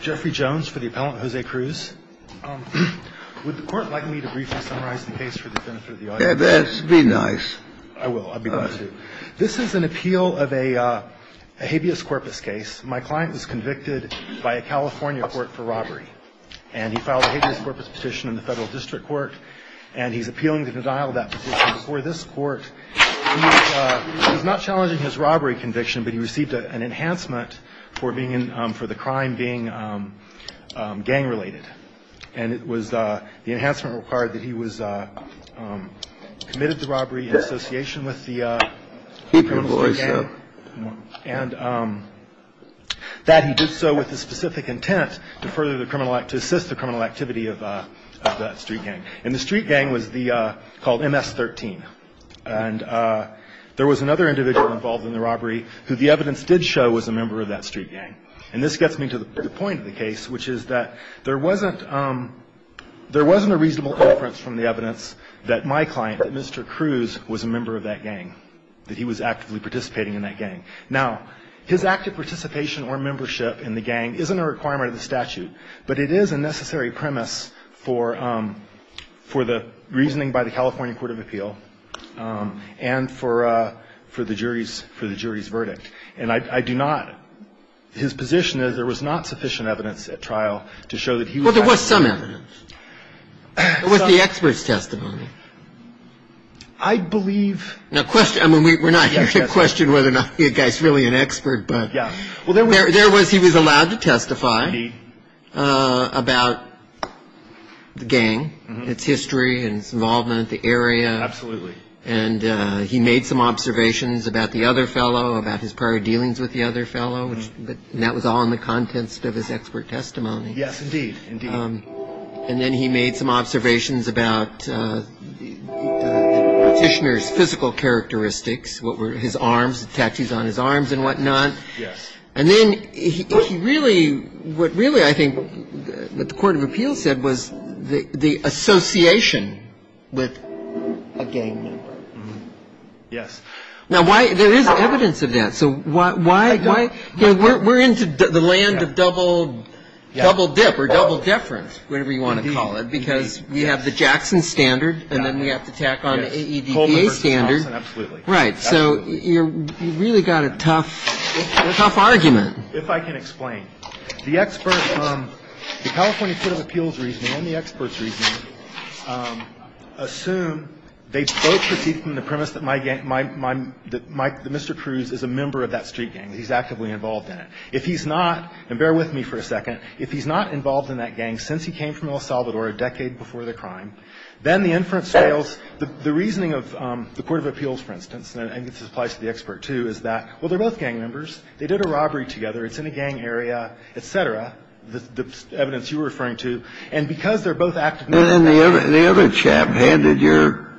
Jeffrey Jones for the appellant, Jose Cruz. Would the court like me to briefly summarize the case for the benefit of the audience? Yes, be nice. I will. I'll be glad to. This is an appeal of a habeas corpus case. My client was convicted by a California court for robbery, and he filed a habeas corpus petition in the federal district court, and he's appealing to denial of that petition. Before this court, he was not challenging his robbery conviction, but he received an enhancement for the crime being gang-related. And the enhancement required that he was committed to robbery in association with the criminal street gang. Keep your voice up. And that he did so with the specific intent to assist the criminal activity of that street gang. And the street gang was called MS-13. And there was another individual involved in the robbery who the evidence did show was a member of that street gang. And this gets me to the point of the case, which is that there wasn't a reasonable inference from the evidence that my client, that Mr. Cruz, was a member of that gang, that he was actively participating in that gang. Now, his active participation or membership in the gang isn't a requirement of the statute, but it is a necessary premise for the reasoning by the California court of appeal and for the jury's verdict. And I do not – his position is there was not sufficient evidence at trial to show that he was active. Well, there was some evidence. There was the expert's testimony. I believe – Now, question – I mean, we're not here to question whether or not the guy's really an expert, but – Well, there was – There was – he was allowed to testify. Indeed. About the gang, its history and its involvement, the area. Absolutely. And he made some observations about the other fellow, about his prior dealings with the other fellow, but that was all in the context of his expert testimony. Yes, indeed. Indeed. And then he made some observations about the petitioner's physical characteristics, what were his arms, the tattoos on his arms and whatnot. Yes. And then he really – what really I think the court of appeal said was the association with a gang member. Yes. Now, why – there is evidence of that. So why – we're into the land of double dip or double deference, whatever you want to call it, because we have the Jackson standard and then we have to tack on the AEDPA standard. Absolutely. Right. So you really got a tough argument. If I can explain. The expert from the California court of appeals reasoning and the expert's reasoning assume they both proceed from the premise that my – that Mr. Cruz is a member of that street gang, that he's actively involved in it. If he's not – and bear with me for a second. If he's not involved in that gang since he came from El Salvador a decade before the crime, then the inference fails. The reasoning of the court of appeals, for instance, and I think this applies to the expert too, is that, well, they're both gang members. They did a robbery together. It's in a gang area, et cetera, the evidence you were referring to. And because they're both actively involved in it. And then the other chap handed your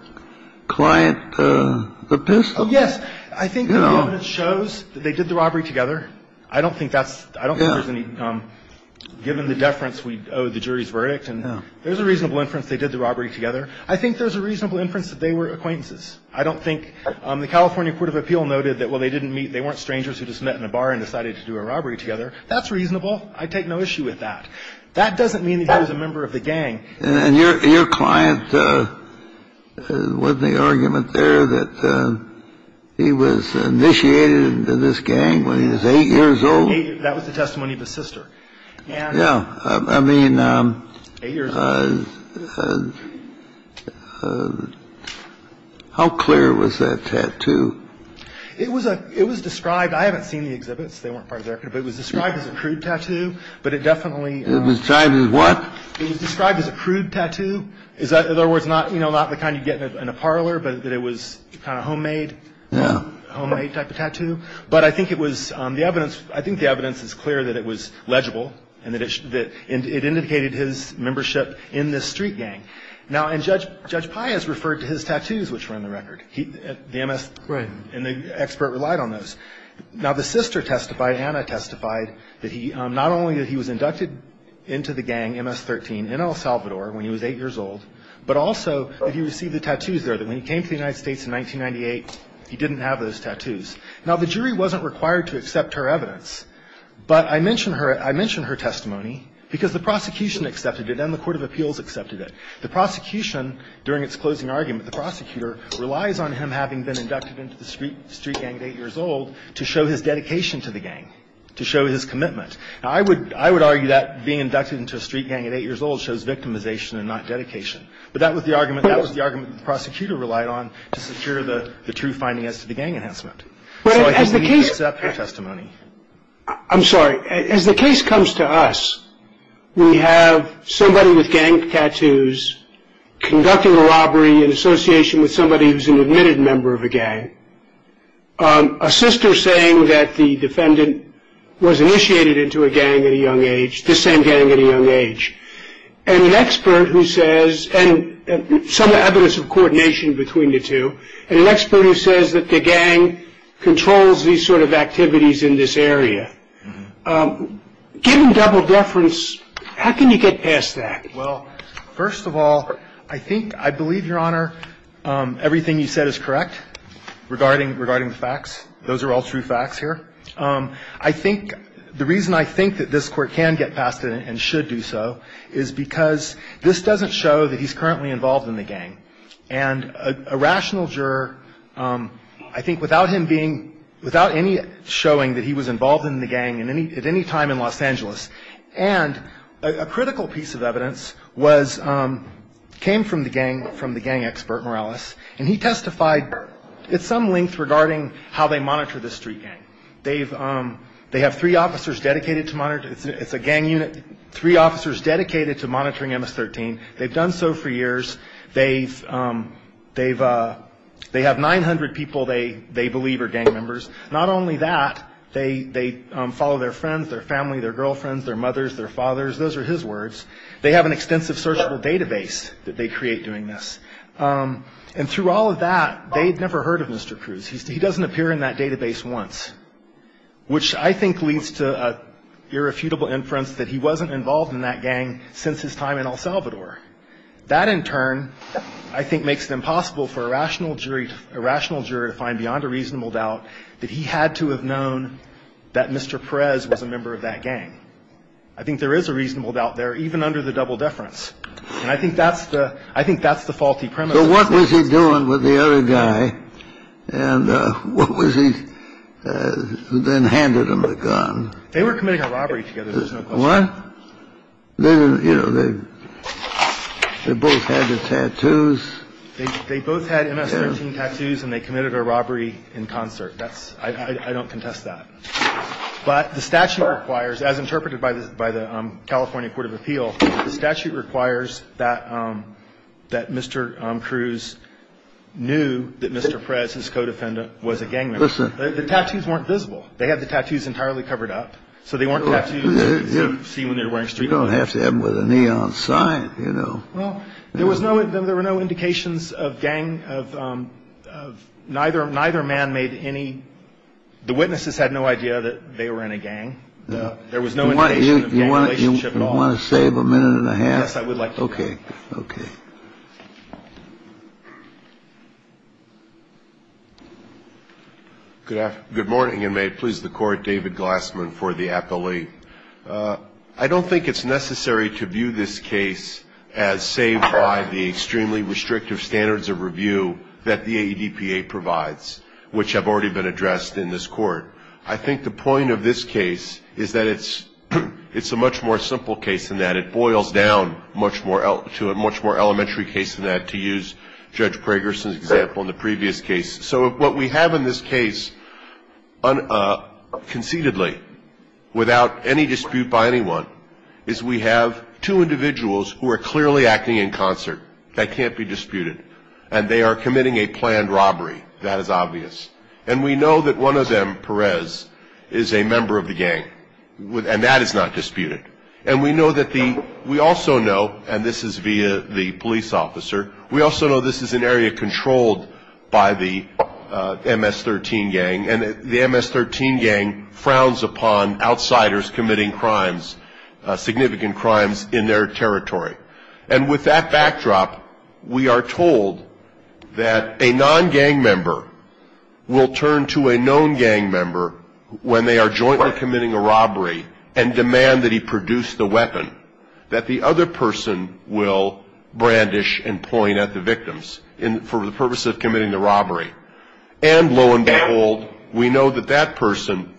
client the pistol. Yes. I think the evidence shows that they did the robbery together. I don't think that's – I don't think there's any – given the deference, we owe the jury's verdict. And there's a reasonable inference they did the robbery together. I think there's a reasonable inference that they were acquaintances. I don't think – the California court of appeal noted that, well, they didn't meet – they weren't strangers who just met in a bar and decided to do a robbery together. That's reasonable. I take no issue with that. That doesn't mean that he was a member of the gang. And your client, was the argument there that he was initiated into this gang when he was 8 years old? That was the testimony of his sister. Yeah. I mean, how clear was that tattoo? It was a – it was described – I haven't seen the exhibits. They weren't part of the record. But it was described as a crude tattoo. But it definitely – It was described as what? It was described as a crude tattoo. In other words, not, you know, not the kind you get in a parlor, but that it was kind of homemade. Yeah. Homemade type of tattoo. But I think it was – the evidence – I think the evidence is clear that it was legible and that it indicated his membership in this street gang. Now, and Judge Pius referred to his tattoos, which were in the record. The MS – Right. And the expert relied on those. Now, the sister testified, Anna testified, that he – not only that he was inducted into the gang, MS-13, in El Salvador when he was 8 years old, but also that he received the tattoos there, that when he came to the United States in 1998, he didn't have those tattoos. Now, the jury wasn't required to accept her evidence. But I mention her – I mention her testimony because the prosecution accepted it and the court of appeals accepted it. The prosecution, during its closing argument, the prosecutor, relies on him having been inducted into the street gang at 8 years old to show his dedication to the gang, to show his commitment. Now, I would – I would argue that being inducted into a street gang at 8 years old shows victimization and not dedication. But that was the argument – that was the argument the prosecutor relied on to secure the true findings as to the gang enhancement. So I think we need to accept her testimony. I'm sorry. As the case comes to us, we have somebody with gang tattoos conducting a robbery in association with somebody who's an admitted member of a gang, a sister saying that the defendant was initiated into a gang at a young age, this same gang at a young age, and an expert who says – some evidence of coordination between the two, and an expert who says that the gang controls these sort of activities in this area. Given double deference, how can you get past that? Well, first of all, I think – I believe, Your Honor, everything you said is correct regarding – regarding the facts. Those are all true facts here. I think – the reason I think that this Court can get past it and should do so is because this doesn't show that he's currently involved in the gang. And a rational juror, I think, without him being – without any showing that he was involved in the gang at any time in Los Angeles, and a critical piece of evidence was – came from the gang – from the gang expert, Morales, and he testified at some length regarding how they monitor the street gang. They've – they have three officers dedicated to monitor – it's a gang unit – three officers dedicated to monitoring MS-13. They've done so for years. They've – they have 900 people they believe are gang members. Not only that, they follow their friends, their family, their girlfriends, their mothers, their fathers. Those are his words. They have an extensive searchable database that they create doing this. And through all of that, they'd never heard of Mr. Cruz. He doesn't appear in that database once, which I think leads to an irrefutable inference that he wasn't involved in that gang since his time in El Salvador. That, in turn, I think makes it impossible for a rational jury – a rational juror to find beyond a reasonable doubt that he had to have known that Mr. Perez was a member of that gang. I think there is a reasonable doubt there, even under the double deference. And I think that's the – I think that's the faulty premise. So what was he doing with the other guy? And what was he – who then handed him the gun? They were committing a robbery together, there's no question. What? You know, they both had the tattoos. They both had MS-13 tattoos and they committed a robbery in concert. That's – I don't contest that. But the statute requires, as interpreted by the California Court of Appeal, the statute requires that Mr. Cruz knew that Mr. Perez, his co-defendant, was a gang member. Listen. The tattoos weren't visible. They had the tattoos entirely covered up, so they weren't tattoos that you could see when they were wearing street clothes. You don't have to have them with a neon sign, you know. Well, there was no – there were no indications of gang – of neither man made any – the witnesses had no idea that they were in a gang. There was no indication of gang relationship at all. Do you want to save a minute and a half? Yes, I would like to. Okay. Okay. Good morning, and may it please the Court. David Glassman for the appellate. I don't think it's necessary to view this case as saved by the extremely restrictive standards of review that the AEDPA provides, which have already been addressed in this Court. I think the point of this case is that it's a much more simple case than that. It boils down to a much more elementary case than that, to use Judge Pragerson's example in the previous case. So what we have in this case conceitedly, without any dispute by anyone, is we have two individuals who are clearly acting in concert. That can't be disputed. And they are committing a planned robbery. That is obvious. And we know that one of them, Perez, is a member of the gang, and that is not disputed. And we know that the we also know, and this is via the police officer, we also know this is an area controlled by the MS-13 gang, and the MS-13 gang frowns upon outsiders committing crimes, significant crimes, in their territory. And with that backdrop, we are told that a non-gang member will turn to a known gang member when they are jointly committing a robbery and demand that he produce the weapon, that the other person will brandish and point at the victims for the purpose of committing the robbery. And lo and behold, we know that that person,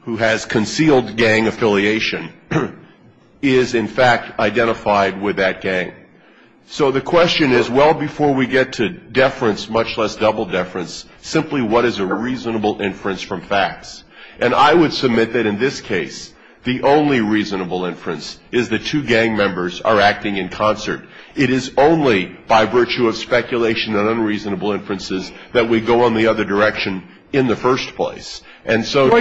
who has concealed gang affiliation, is in fact identified with that gang. So the question is, well, before we get to deference, much less double deference, simply what is a reasonable inference from facts? And I would submit that in this case, the only reasonable inference is the two gang members are acting in concert. It is only by virtue of speculation and unreasonable inferences that we go on the other direction in the first place. Well,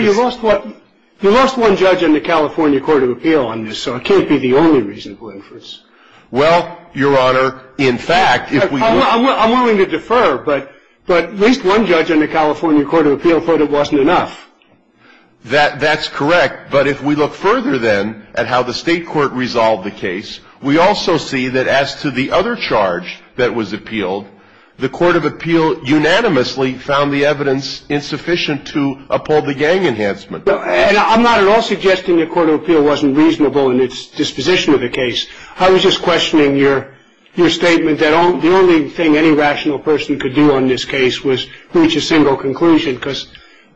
you lost one judge in the California Court of Appeal on this, so it can't be the only reasonable inference. Well, Your Honor, in fact, if we look... I'm willing to defer, but at least one judge in the California Court of Appeal thought it wasn't enough. That's correct. But if we look further, then, at how the State Court resolved the case, we also see that as to the other charge that was appealed, the Court of Appeal unanimously found the evidence insufficient to uphold the gang enhancement. And I'm not at all suggesting the Court of Appeal wasn't reasonable in its disposition of the case. I was just questioning your statement that the only thing any rational person could do on this case was reach a single conclusion, because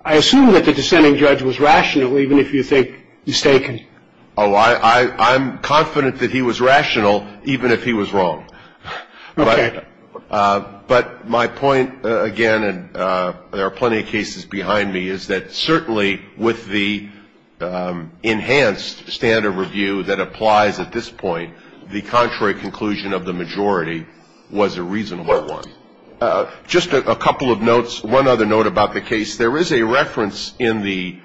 I assume that the dissenting judge was rational, even if you think mistaken. Oh, I'm confident that he was rational, even if he was wrong. Okay. But my point, again, and there are plenty of cases behind me, is that certainly with the enhanced standard review that applies at this point, the contrary conclusion of the majority was a reasonable one. Just a couple of notes. One other note about the case. There is a reference in the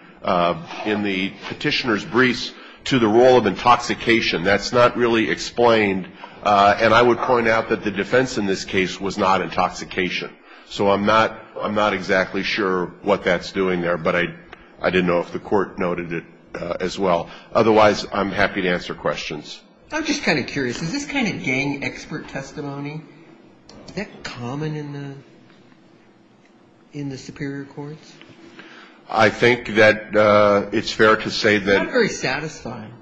Petitioner's Briefs to the role of intoxication. That's not really explained. And I would point out that the defense in this case was not intoxication. So I'm not exactly sure what that's doing there, but I didn't know if the Court noted it as well. Otherwise, I'm happy to answer questions. I'm just kind of curious. Is this kind of gang expert testimony, is that common in the superior courts? I think that it's fair to say that. It's not very satisfying.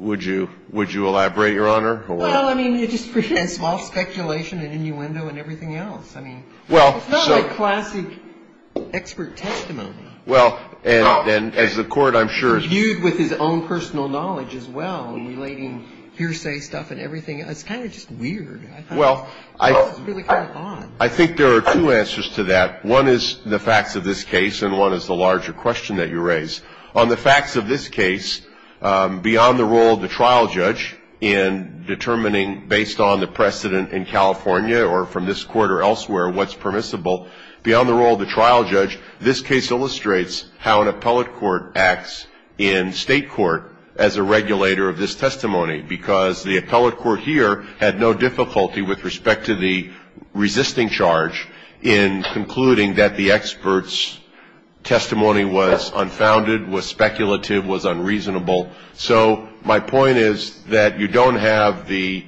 Would you elaborate, Your Honor? Well, I mean, it just presents false speculation and innuendo and everything else. I mean, it's not like classic expert testimony. Well, and as the Court, I'm sure, is viewed with his own personal knowledge as well, in relating hearsay stuff and everything. It's kind of just weird. I think this is really kind of odd. Well, I think there are two answers to that. One is the facts of this case, and one is the larger question that you raise. On the facts of this case, beyond the role of the trial judge in determining, based on the precedent in California or from this Court or elsewhere, what's permissible, beyond the role of the trial judge, this case illustrates how an appellate court acts in state court as a regulator of this testimony, because the appellate court here had no difficulty with respect to the resisting charge in concluding that the expert's testimony was unfounded, was speculative, was unreasonable. So my point is that you don't have the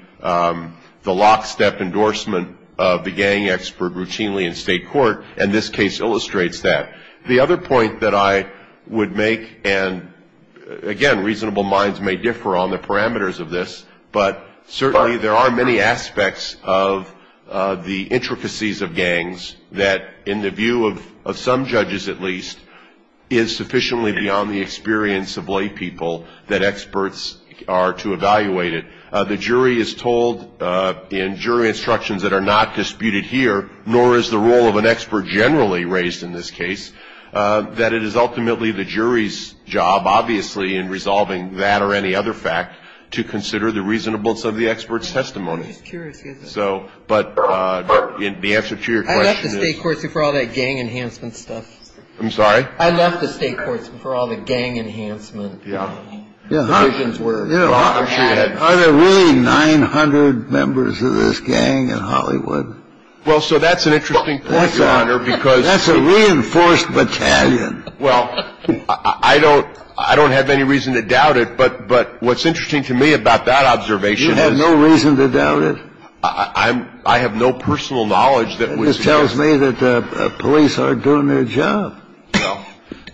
lockstep endorsement of the gang expert routinely in state court, and this case illustrates that. The other point that I would make, and, again, reasonable minds may differ on the parameters of this, but certainly there are many aspects of the intricacies of gangs that, in the view of some judges at least, is sufficiently beyond the experience of laypeople that experts are to evaluate it. The jury is told in jury instructions that are not disputed here, nor is the role of an expert generally raised in this case, that it is ultimately the jury's job, obviously, in resolving that or any other fact, to consider the reasonableness of the expert's testimony. So, but the answer to your question is. I left the state courts before all that gang enhancement stuff. I'm sorry? I left the state courts before all the gang enhancement. Yeah. Yeah. I'm sure you had. Are there really 900 members of this gang in Hollywood? Well, so that's an interesting point, Your Honor, because. That's a reinforced battalion. Well, I don't have any reason to doubt it, but what's interesting to me about that observation is. You have no reason to doubt it? I have no personal knowledge that was. And this tells me that police aren't doing their job. No.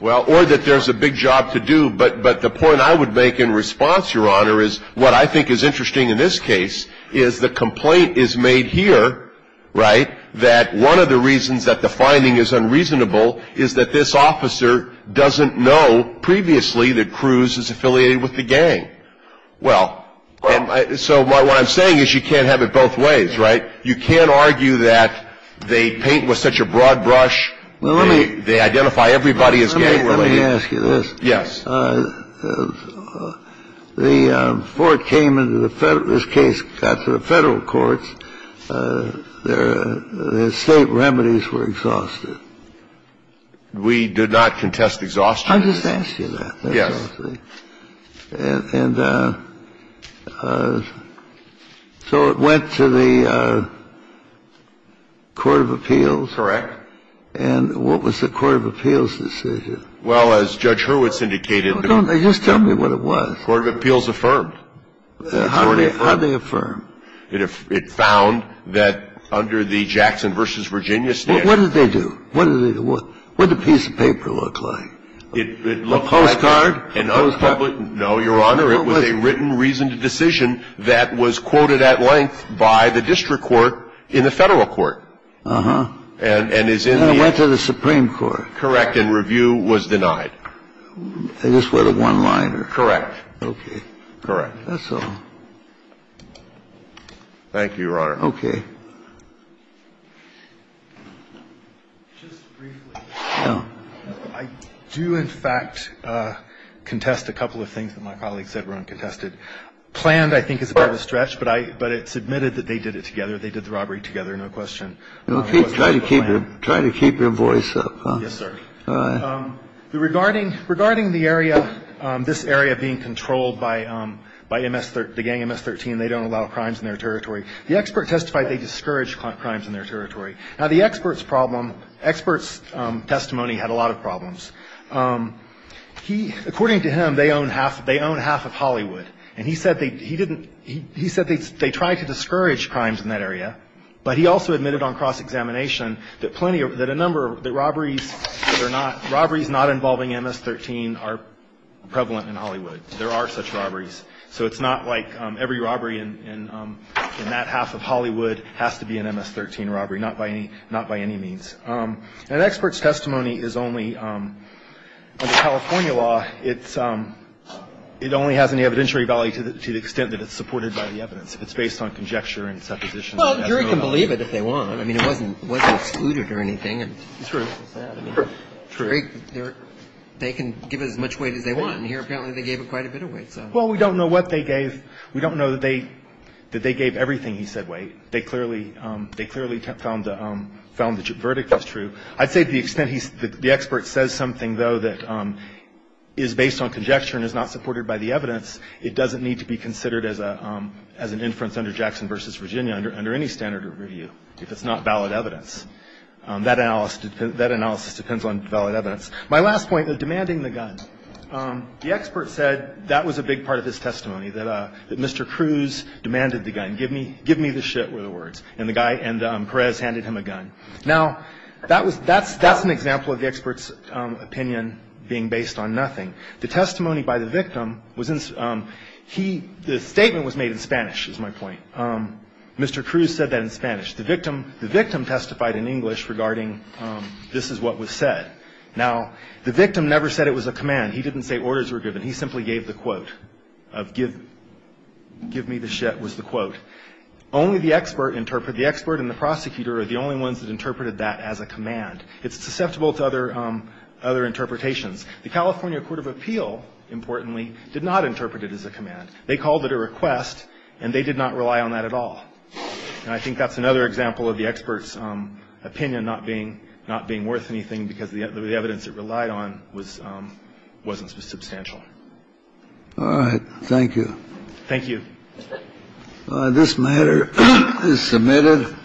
Well, or that there's a big job to do, but the point I would make in response, Your Honor, is what I think is interesting in this case is the complaint is made here, right, that one of the reasons that the finding is unreasonable is that this officer doesn't know previously that Cruz is affiliated with the gang. Well, so what I'm saying is you can't have it both ways, right? You can't argue that they paint with such a broad brush. Well, let me. They identify everybody as gang related. Let me ask you this. Yes. The court came into the Federal ‑‑ this case got to the Federal courts. Their state remedies were exhausted. We did not contest exhaustion. I'm just asking that. Yes. And so it went to the court of appeals. Correct. And what was the court of appeals decision? Well, as Judge Hurwitz indicated ‑‑ Just tell me what it was. Court of appeals affirmed. How did they affirm? It found that under the Jackson v. Virginia statute ‑‑ What did they do? What did the piece of paper look like? A postcard? No, Your Honor. It was a written reasoned decision that was quoted at length by the district court in the Federal court. Uh-huh. And it's in the ‑‑ And it went to the Supreme Court. Correct. And review was denied. I guess with a one-liner. Correct. Okay. Correct. That's all. Thank you, Your Honor. Okay. Just briefly. Yeah. I do, in fact, contest a couple of things that my colleagues said were uncontested. Planned, I think, is a bit of a stretch, but I ‑‑ but it's admitted that they did it together. They did the robbery together, no question. Okay. Try to keep your voice up. Yes, sir. Regarding the area ‑‑ this area being controlled by MS ‑‑ the gang MS13, they don't allow crimes in their territory. The expert testified they discouraged crimes in their territory. Now, the expert's problem ‑‑ expert's testimony had a lot of problems. He ‑‑ according to him, they own half ‑‑ they own half of Hollywood. And he said they didn't ‑‑ he said they tried to discourage crimes in that area, but he also admitted on cross-examination that plenty of ‑‑ that a number of the robberies that are not ‑‑ robberies not involving MS13 are prevalent in Hollywood. There are such robberies. So it's not like every robbery in that half of Hollywood has to be an MS13 robbery, not by any means. An expert's testimony is only, under California law, it's ‑‑ it only has any evidentiary value to the extent that it's supported by the evidence. It's based on conjecture and supposition. Well, a jury can believe it if they want. I mean, it wasn't excluded or anything. True. They can give as much weight as they want. And here apparently they gave quite a bit of weight. Well, we don't know what they gave. We don't know that they gave everything he said weight. They clearly found the verdict was true. I'd say to the extent the expert says something, though, that is based on conjecture and is not supported by the evidence, it doesn't need to be considered as an inference under Jackson v. Virginia under any standard of review if it's not valid evidence. That analysis depends on valid evidence. My last point, the demanding the gun. The expert said that was a big part of his testimony, that Mr. Cruz demanded the gun. Give me the shit were the words. And Perez handed him a gun. Now, that's an example of the expert's opinion being based on nothing. The testimony by the victim was he the statement was made in Spanish is my point. Mr. Cruz said that in Spanish. The victim the victim testified in English regarding this is what was said. Now, the victim never said it was a command. He didn't say orders were given. He simply gave the quote of give give me the shit was the quote. Only the expert interpret the expert and the prosecutor are the only ones that interpreted that as a command. It's susceptible to other other interpretations. The California Court of Appeal, importantly, did not interpret it as a command. They called it a request and they did not rely on that at all. And I think that's another example of the expert's opinion not being not being worth anything because the evidence it relied on was wasn't substantial. All right. Thank you. Thank you. This matter is submitted.